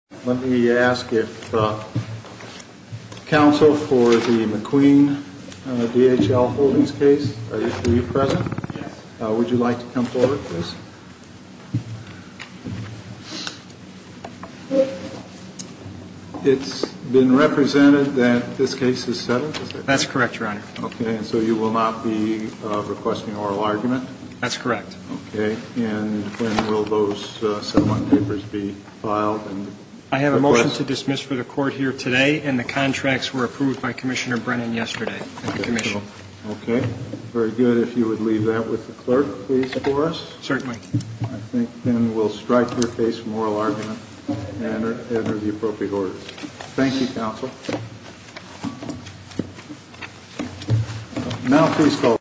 Let me ask if counsel for the McQueen D.H.L. Holdings case, are you present? Yes. Would you like to come forward, please? It's been represented that this case is settled, is it? That's correct, Your Honor. Okay, and so you will not be requesting oral argument? That's correct. Okay, and when will those settlement papers be filed? I have a motion to dismiss for the court here today, and the contracts were approved by Commissioner Brennan yesterday at the commission. Okay, very good. If you would leave that with the clerk, please, for us. Certainly. I think then we'll strike your case for oral argument and enter the appropriate orders. Thank you, counsel. Now please go.